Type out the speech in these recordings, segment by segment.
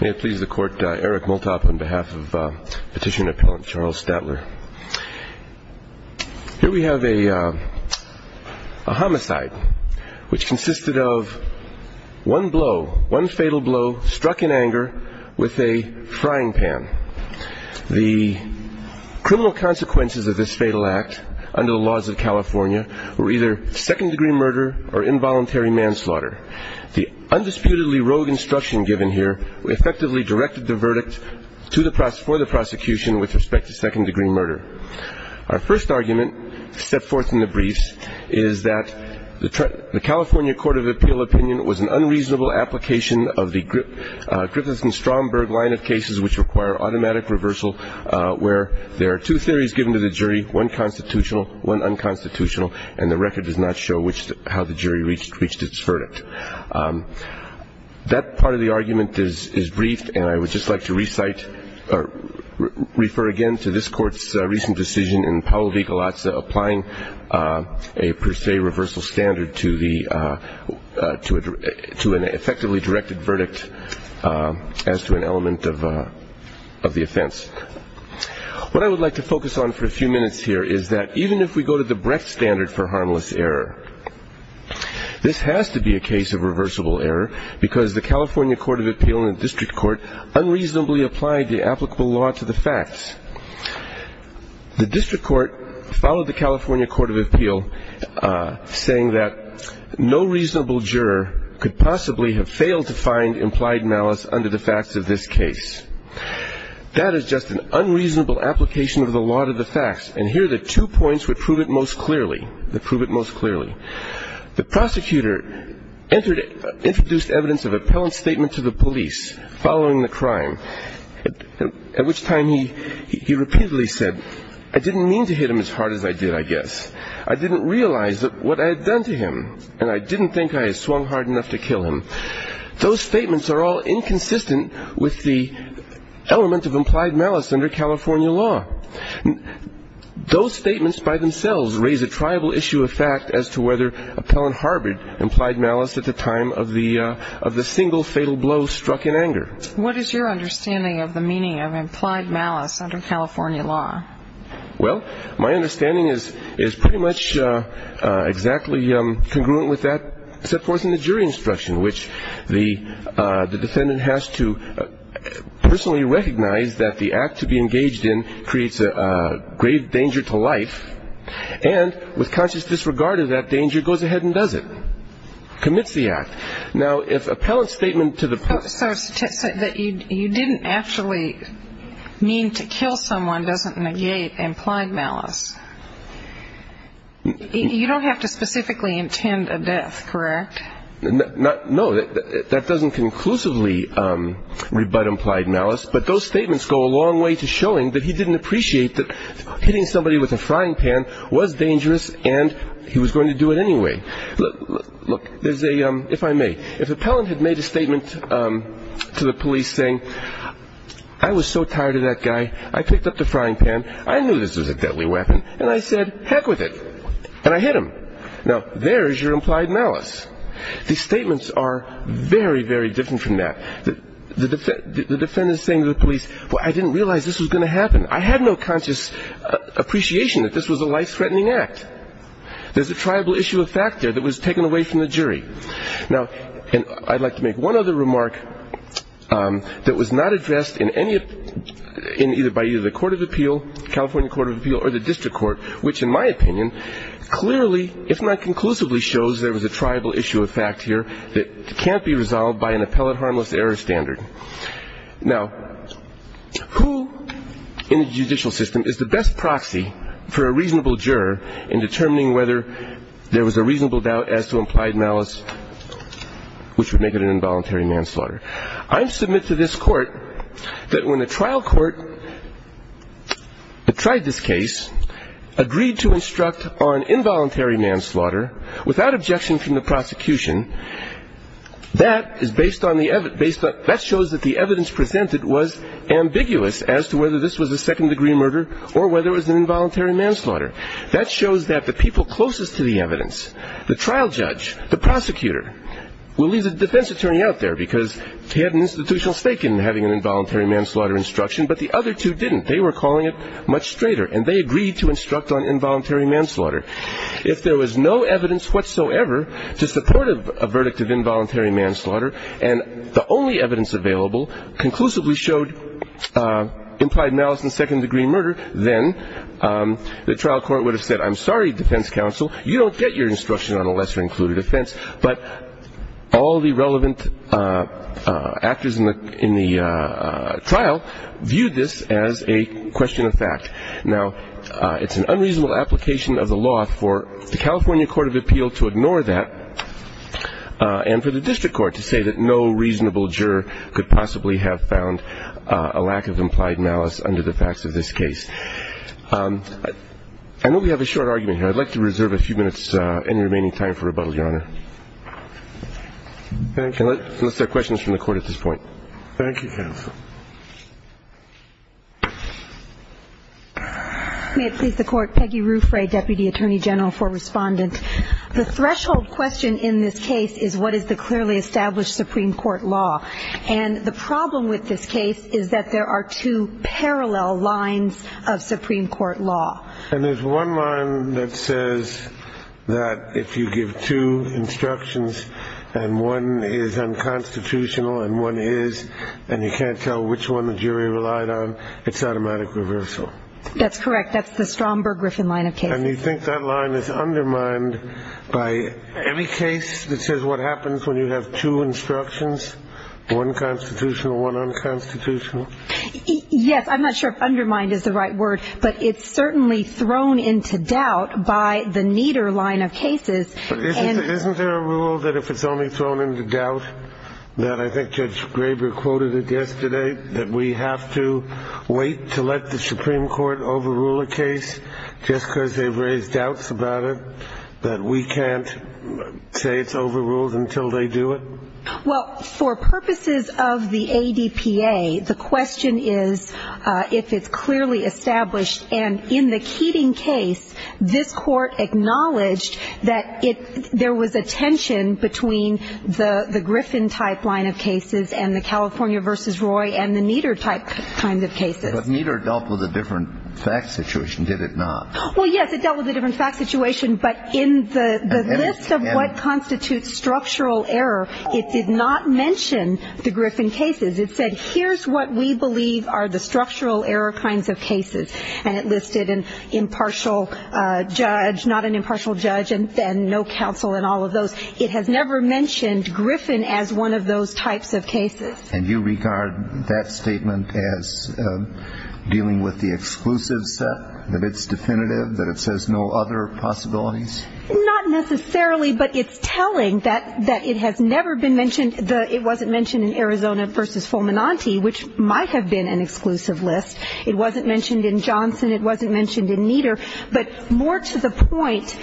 May it please the court, Eric Multop on behalf of petitioner and appellant Charles Statler. Here we have a homicide which consisted of one blow, one fatal blow, struck in anger with a frying pan. The criminal consequences of this fatal act under the laws of California were either second degree murder or involuntary manslaughter. The undisputedly rogue instruction given here effectively directed the verdict for the prosecution with respect to second degree murder. Our first argument set forth in the briefs is that the California Court of Appeal opinion was an unreasonable application of the Griffith and Stromberg line of cases which require automatic reversal where there are two theories given to the jury, one constitutional, one unconstitutional, and the record does not show how the jury reached its verdict. That part of the argument is brief, and I would just like to refer again to this court's recent decision in Paolo Vigalazza applying a per se reversal standard to an effectively directed verdict as to an element of the offense. What I would like to focus on for a few minutes here is that even if we go to the Brecht standard for harmless error, this has to be a case of reversible error because the California Court of Appeal and the district court unreasonably applied the applicable law to the facts. The district court followed the California Court of Appeal saying that no reasonable juror could possibly have failed to find implied malice under the facts of this case. That is just an unreasonable application of the law to the facts, and here are the two points that prove it most clearly. The prosecutor introduced evidence of appellant statement to the police following the crime, at which time he repeatedly said, I didn't mean to hit him as hard as I did, I guess. I didn't realize that what I had done to him, and I didn't think I had swung hard enough to kill him. Those statements are all inconsistent with the element of implied malice under California law. Those statements by themselves raise a triable issue of fact as to whether appellant harbored implied malice at the time of the single fatal blow struck in anger. What is your understanding of the meaning of implied malice under California law? Well, my understanding is pretty much exactly congruent with that set forth in the jury instruction, which the defendant has to personally recognize that the act to be engaged in creates a grave danger to life, and with conscious disregard of that danger, goes ahead and does it, commits the act. So you didn't actually mean to kill someone doesn't negate implied malice. You don't have to specifically intend a death, correct? No, that doesn't conclusively rebut implied malice, but those statements go a long way to showing that he didn't appreciate that hitting somebody with a frying pan was dangerous and he was going to do it anyway. Look, if I may, if appellant had made a statement to the police saying, I was so tired of that guy, I picked up the frying pan, I knew this was a deadly weapon, and I said, heck with it, and I hit him. Now, there is your implied malice. These statements are very, very different from that. The defendant is saying to the police, well, I didn't realize this was going to happen. I had no conscious appreciation that this was a life-threatening act. There's a triable issue of fact there that was taken away from the jury. Now, I'd like to make one other remark that was not addressed in any of the court of appeal, California Court of Appeal, or the district court, which in my opinion clearly, if not conclusively, shows there was a triable issue of fact here that can't be resolved by an appellate harmless error standard. Now, who in the judicial system is the best proxy for a reasonable juror in determining whether there was a reasonable doubt as to implied malice, which would make it an involuntary manslaughter? I submit to this court that when a trial court tried this case, agreed to instruct on involuntary manslaughter without objection from the prosecution, that shows that the evidence presented was ambiguous as to whether this was a second-degree murder or whether it was an involuntary manslaughter. That shows that the people closest to the evidence, the trial judge, the prosecutor, will leave the defense attorney out there because he had an institutional stake in having an involuntary manslaughter instruction, but the other two didn't. They were calling it much straighter, and they agreed to instruct on involuntary manslaughter. If there was no evidence whatsoever to support a verdict of involuntary manslaughter and the only evidence available conclusively showed implied malice and second-degree murder, then the trial court would have said, I'm sorry, defense counsel, you don't get your instruction on a lesser-included offense, but all the relevant actors in the trial viewed this as a question of fact. Now, it's an unreasonable application of the law for the California Court of Appeal to ignore that and for the district court to say that no reasonable juror could possibly have found a lack of implied malice under the facts of this case. I know we have a short argument here. I'd like to reserve a few minutes in the remaining time for rebuttal, Your Honor. Unless there are questions from the Court at this point. Thank you, counsel. May it please the Court. Peggy Ruffray, Deputy Attorney General for Respondent. The threshold question in this case is what is the clearly established Supreme Court law, and the problem with this case is that there are two parallel lines of Supreme Court law. And there's one line that says that if you give two instructions and one is unconstitutional and one is and you can't tell which one the jury relied on, it's automatic reversal. That's correct. That's the Stromberg-Griffin line of cases. And you think that line is undermined by any case that says what happens when you have two instructions, one constitutional, one unconstitutional? Yes. I'm not sure if undermined is the right word, but it's certainly thrown into doubt by the Nieder line of cases. Isn't there a rule that if it's only thrown into doubt, that I think Judge Graber quoted it yesterday, that we have to wait to let the Supreme Court overrule a case just because they've raised doubts about it, that we can't say it's overruled until they do it? Well, for purposes of the ADPA, the question is if it's clearly established. And in the Keating case, this Court acknowledged that there was a tension between the Griffin type line of cases and the California v. Roy and the Nieder type kind of cases. But Nieder dealt with a different fact situation, did it not? Well, yes, it dealt with a different fact situation, but in the list of what constitutes structural error, it did not mention the Griffin cases. It said, here's what we believe are the structural error kinds of cases. And it listed an impartial judge, not an impartial judge, and no counsel in all of those. It has never mentioned Griffin as one of those types of cases. And you regard that statement as dealing with the exclusive set, that it's definitive, that it says no other possibilities? Not necessarily, but it's telling that it has never been mentioned. It wasn't mentioned in Arizona v. Fulminante, which might have been an exclusive list. It wasn't mentioned in Johnson. It wasn't mentioned in Nieder. But more to the point,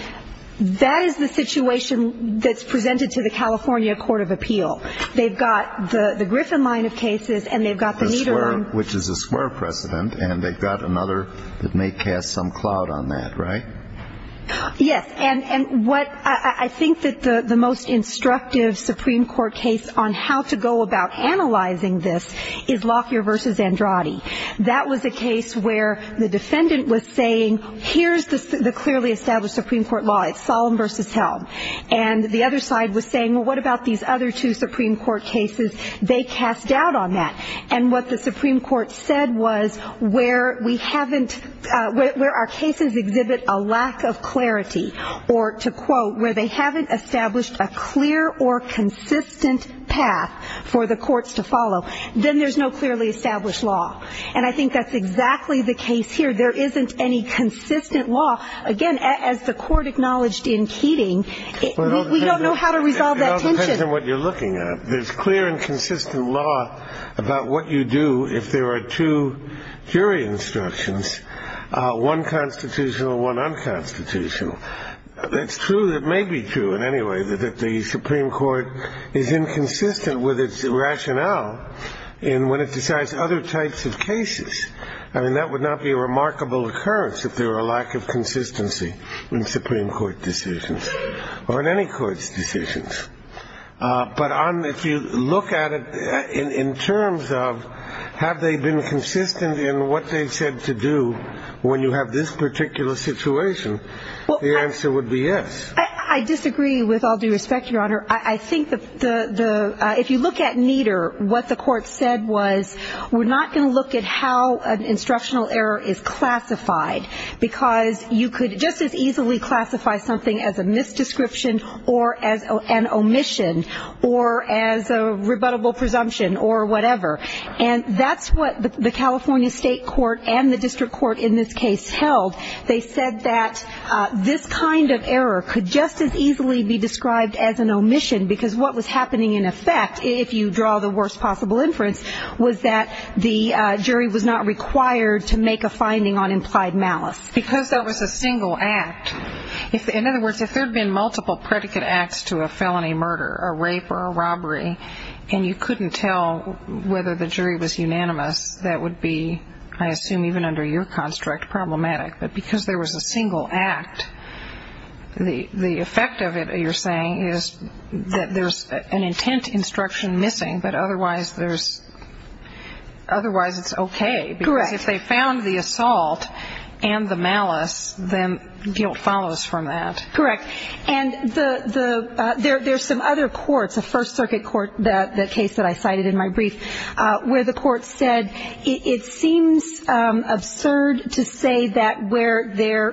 that is the situation that's presented to the California Court of Appeal. They've got the Griffin line of cases, and they've got the Nieder one. Which is a square precedent, and they've got another that may cast some cloud on that, right? Yes. And what I think that the most instructive Supreme Court case on how to go about analyzing this is Lockyer v. Andrade. That was a case where the defendant was saying, here's the clearly established Supreme Court law. It's Solemn v. Held. And the other side was saying, well, what about these other two Supreme Court cases? They cast doubt on that. And what the Supreme Court said was, where we haven't, where our cases exhibit a lack of clarity, or to quote, where they haven't established a clear or consistent path for the courts to follow, then there's no clearly established law. And I think that's exactly the case here. There isn't any consistent law. Again, as the Court acknowledged in Keating, we don't know how to resolve that tension. It all depends on what you're looking at. There's clear and consistent law about what you do if there are two jury instructions, one constitutional, one unconstitutional. That's true. It may be true in any way that the Supreme Court is inconsistent with its rationale in when it decides other types of cases. I mean, that would not be a remarkable occurrence if there were a lack of consistency in Supreme Court decisions or in any court's decisions. But if you look at it in terms of have they been consistent in what they said to do when you have this particular situation? The answer would be yes. I disagree with all due respect, Your Honor. I think if you look at Nieder, what the Court said was we're not going to look at how an instructional error is classified because you could just as easily classify something as a misdescription or as an omission or as a rebuttable presumption or whatever. And that's what the California State Court and the district court in this case held. They said that this kind of error could just as easily be described as an omission because what was happening in effect, if you draw the worst possible inference, was that the jury was not required to make a finding on implied malice. Because that was a single act. In other words, if there had been multiple predicate acts to a felony murder, a rape or a robbery, and you couldn't tell whether the jury was unanimous, that would be, I assume even under your construct, problematic. But because there was a single act, the effect of it, you're saying, is that there's an intent instruction missing, but otherwise it's okay. Correct. Because if they found the assault and the malice, then guilt follows from that. Correct. And there's some other courts, a First Circuit court, that case that I cited in my brief, where the court said it seems absurd to say that where there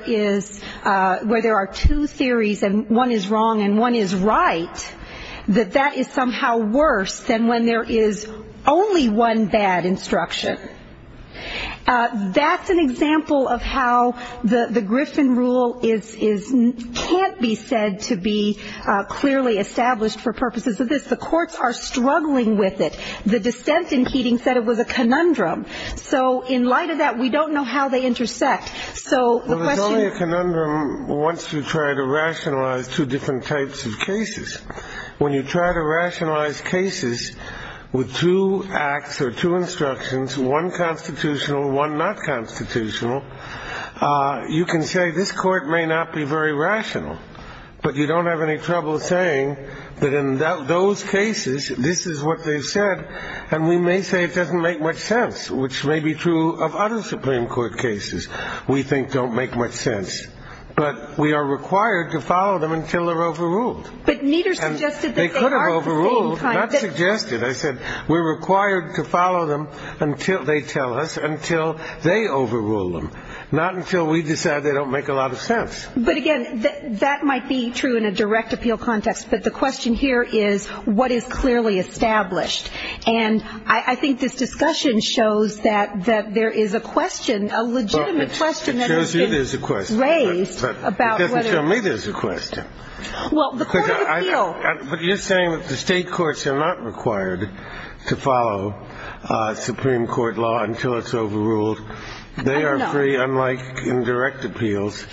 are two theories and one is wrong and one is right, that that is somehow worse than when there is only one bad instruction. That's an example of how the Griffin rule can't be said to be clearly established for purposes of this. But the courts are struggling with it. The dissent in Keating said it was a conundrum. So in light of that, we don't know how they intersect. Well, it's only a conundrum once you try to rationalize two different types of cases. When you try to rationalize cases with two acts or two instructions, one constitutional, one not constitutional, you can say this court may not be very rational, but you don't have any trouble saying that in those cases, this is what they said, and we may say it doesn't make much sense, which may be true of other Supreme Court cases we think don't make much sense. But we are required to follow them until they're overruled. But Nieder suggested that they are at the same time. They could have overruled. Not suggested. I said we're required to follow them until they tell us, until they overrule them, not until we decide they don't make a lot of sense. But, again, that might be true in a direct appeal context. But the question here is what is clearly established? And I think this discussion shows that there is a question, a legitimate question that has been raised. It shows you there's a question. But it doesn't show me there's a question. Well, the court of appeal. But you're saying that the state courts are not required to follow Supreme Court law until it's overruled. They are free, unlike in direct appeals.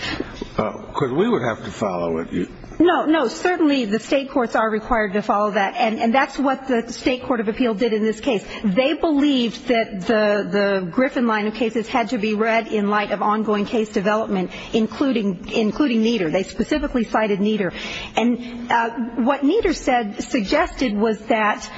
We would have to follow it. No, no, certainly the state courts are required to follow that. And that's what the state court of appeal did in this case. They believed that the Griffin line of cases had to be read in light of ongoing case development, including Nieder. They specifically cited Nieder. And what Nieder suggested was that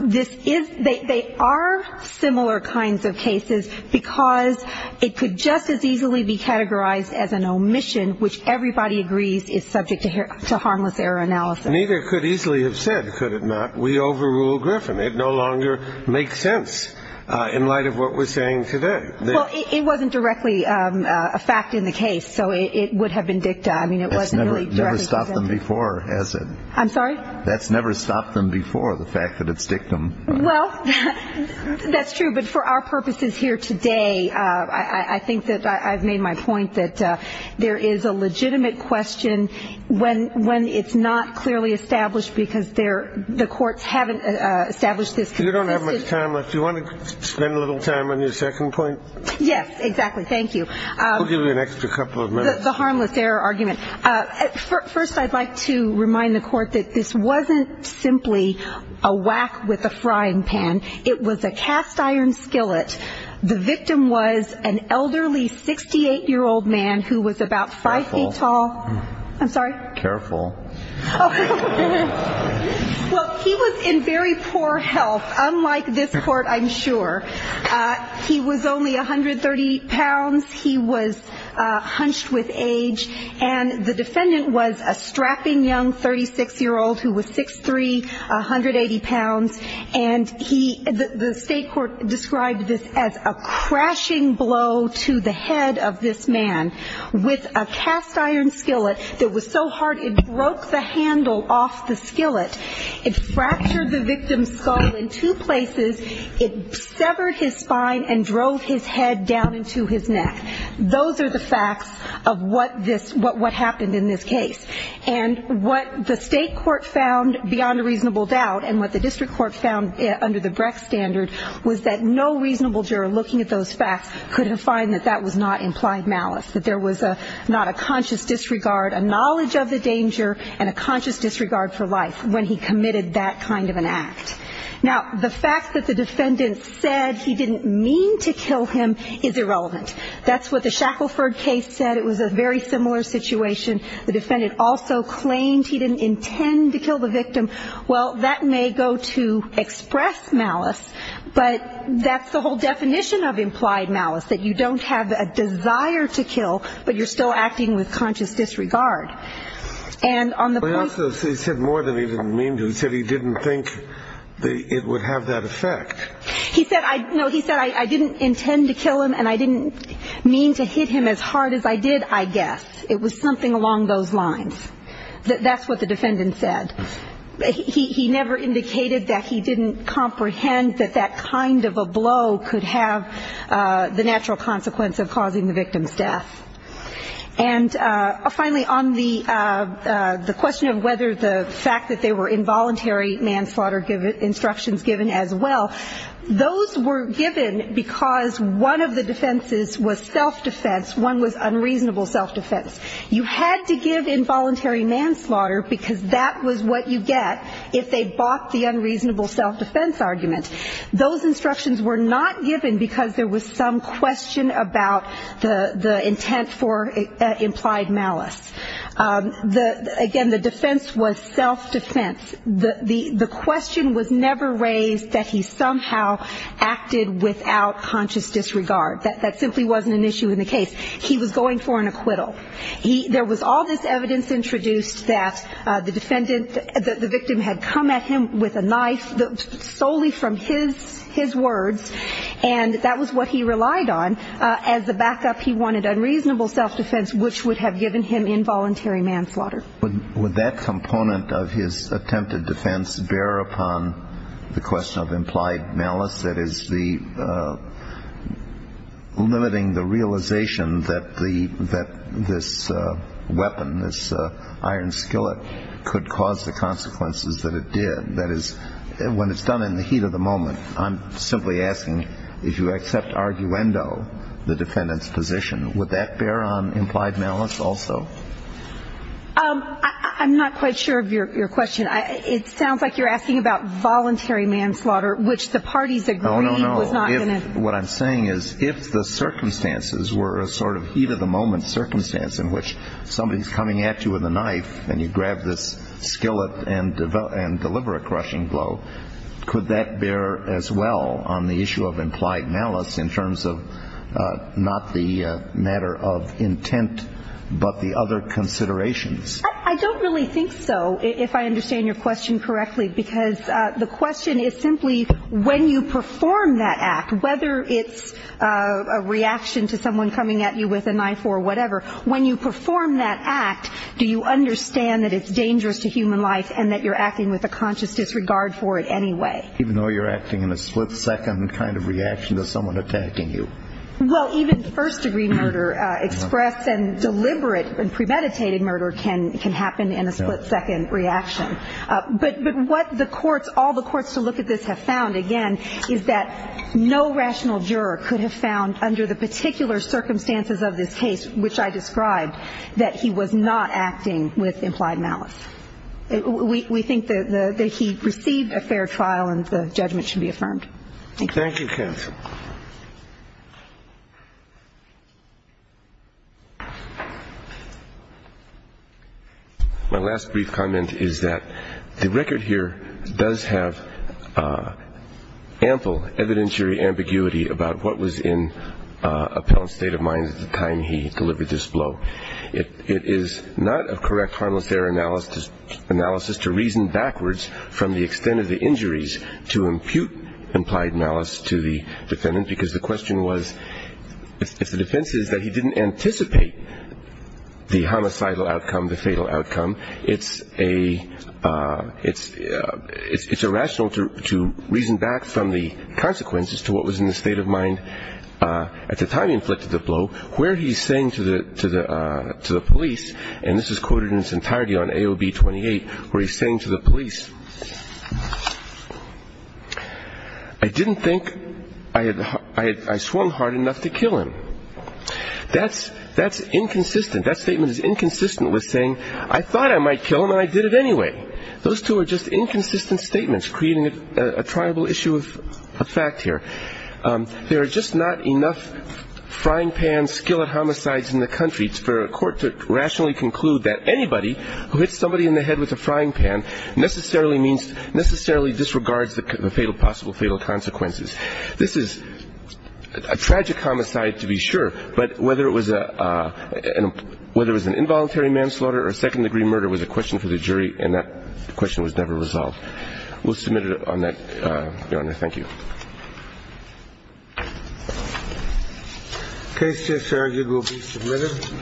this is they are similar kinds of cases because it could just as easily be categorized as an omission, which everybody agrees is subject to harmless error analysis. Neither could easily have said, could it not, we overrule Griffin. It no longer makes sense in light of what we're saying today. Well, it wasn't directly a fact in the case, so it would have been dicta. That's never stopped them before, has it? I'm sorry? That's never stopped them before, the fact that it's dictum. Well, that's true. But for our purposes here today, I think that I've made my point that there is a legitimate question when it's not clearly established because the courts haven't established this. You don't have much time left. Do you want to spend a little time on your second point? Yes, exactly. Thank you. We'll give you an extra couple of minutes. The harmless error argument. First, I'd like to remind the court that this wasn't simply a whack with a frying pan. It was a cast iron skillet. The victim was an elderly 68-year-old man who was about five feet tall. I'm sorry? Careful. Well, he was in very poor health, unlike this court, I'm sure. He was only 130 pounds. He was hunched with age, and the defendant was a strapping young 36-year-old who was 6'3", 180 pounds, and the state court described this as a crashing blow to the head of this man with a cast iron skillet that was so hard it broke the handle off the skillet. It fractured the victim's skull in two places. It severed his spine and drove his head down into his neck. Those are the facts of what happened in this case, and what the state court found beyond a reasonable doubt and what the district court found under the Brecht standard was that no reasonable juror looking at those facts could have found that that was not implied malice, that there was not a conscious disregard, a knowledge of the danger, and a conscious disregard for life when he committed that kind of an act. Now, the fact that the defendant said he didn't mean to kill him is irrelevant. That's what the Shackelford case said. It was a very similar situation. The defendant also claimed he didn't intend to kill the victim. Well, that may go to express malice, but that's the whole definition of implied malice, that you don't have a desire to kill, but you're still acting with conscious disregard. He said more than he didn't mean to. He said he didn't think it would have that effect. No, he said, I didn't intend to kill him, and I didn't mean to hit him as hard as I did, I guess. It was something along those lines. That's what the defendant said. He never indicated that he didn't comprehend that that kind of a blow could have the natural consequence of causing the victim's death. And finally, on the question of whether the fact that they were involuntary manslaughter instructions given as well, those were given because one of the defenses was self-defense, one was unreasonable self-defense. You had to give involuntary manslaughter because that was what you get if they bought the unreasonable self-defense argument. Those instructions were not given because there was some question about the intent for implied malice. Again, the defense was self-defense. The question was never raised that he somehow acted without conscious disregard. That simply wasn't an issue in the case. He was going for an acquittal. There was all this evidence introduced that the defendant, that the victim had come at him with a knife solely from his words, and that was what he relied on as a backup. He wanted unreasonable self-defense, which would have given him involuntary manslaughter. Would that component of his attempted defense bear upon the question of implied malice, that is, limiting the realization that this weapon, this iron skillet, could cause the consequences that it did? That is, when it's done in the heat of the moment, I'm simply asking, if you accept arguendo the defendant's position, would that bear on implied malice also? I'm not quite sure of your question. It sounds like you're asking about voluntary manslaughter, which the parties agreed was not going to do. Oh, no, no. What I'm saying is if the circumstances were a sort of heat of the moment circumstance in which somebody's coming at you with a knife and you grab this skillet and deliver a crushing blow, could that bear as well on the issue of implied malice in terms of not the matter of intent, but the other considerations? I don't really think so, if I understand your question correctly, because the question is simply when you perform that act, whether it's a reaction to someone coming at you with a knife or whatever, when you perform that act, do you understand that it's dangerous to human life and that you're acting with a conscious disregard for it anyway? Even though you're acting in a split-second kind of reaction to someone attacking you. Well, even first-degree murder expressed and deliberate and premeditated murder can happen in a split-second reaction. But what the courts, all the courts to look at this have found, again, is that no rational juror could have found under the particular circumstances of this case, which I described, that he was not acting with implied malice. We think that he received a fair trial and the judgment should be affirmed. Thank you. Thank you, counsel. Thank you. My last brief comment is that the record here does have ample evidentiary ambiguity about what was in Appellant's state of mind at the time he delivered this blow. It is not a correct harmless error analysis to reason backwards from the extent of the injuries to impute implied malice to the defendant because the question was, if the defense is that he didn't anticipate the homicidal outcome, the fatal outcome, it's irrational to reason back from the consequences to what was in the state of mind at the time he inflicted the blow. Where he's saying to the police, and this is quoted in its entirety on AOB 28, where he's saying to the police, I didn't think I swung hard enough to kill him. That's inconsistent. That statement is inconsistent with saying, I thought I might kill him and I did it anyway. Those two are just inconsistent statements, creating a triable issue of fact here. There are just not enough frying pan skillet homicides in the country for a court to rationally conclude that anybody who hits somebody in the head with a frying pan necessarily means necessarily disregards the fatal possible fatal consequences. This is a tragic homicide to be sure, but whether it was an involuntary manslaughter or second degree murder was a question for the jury and that question was never resolved. We'll submit it on that, Your Honor. Thank you. Case just argued will be submitted.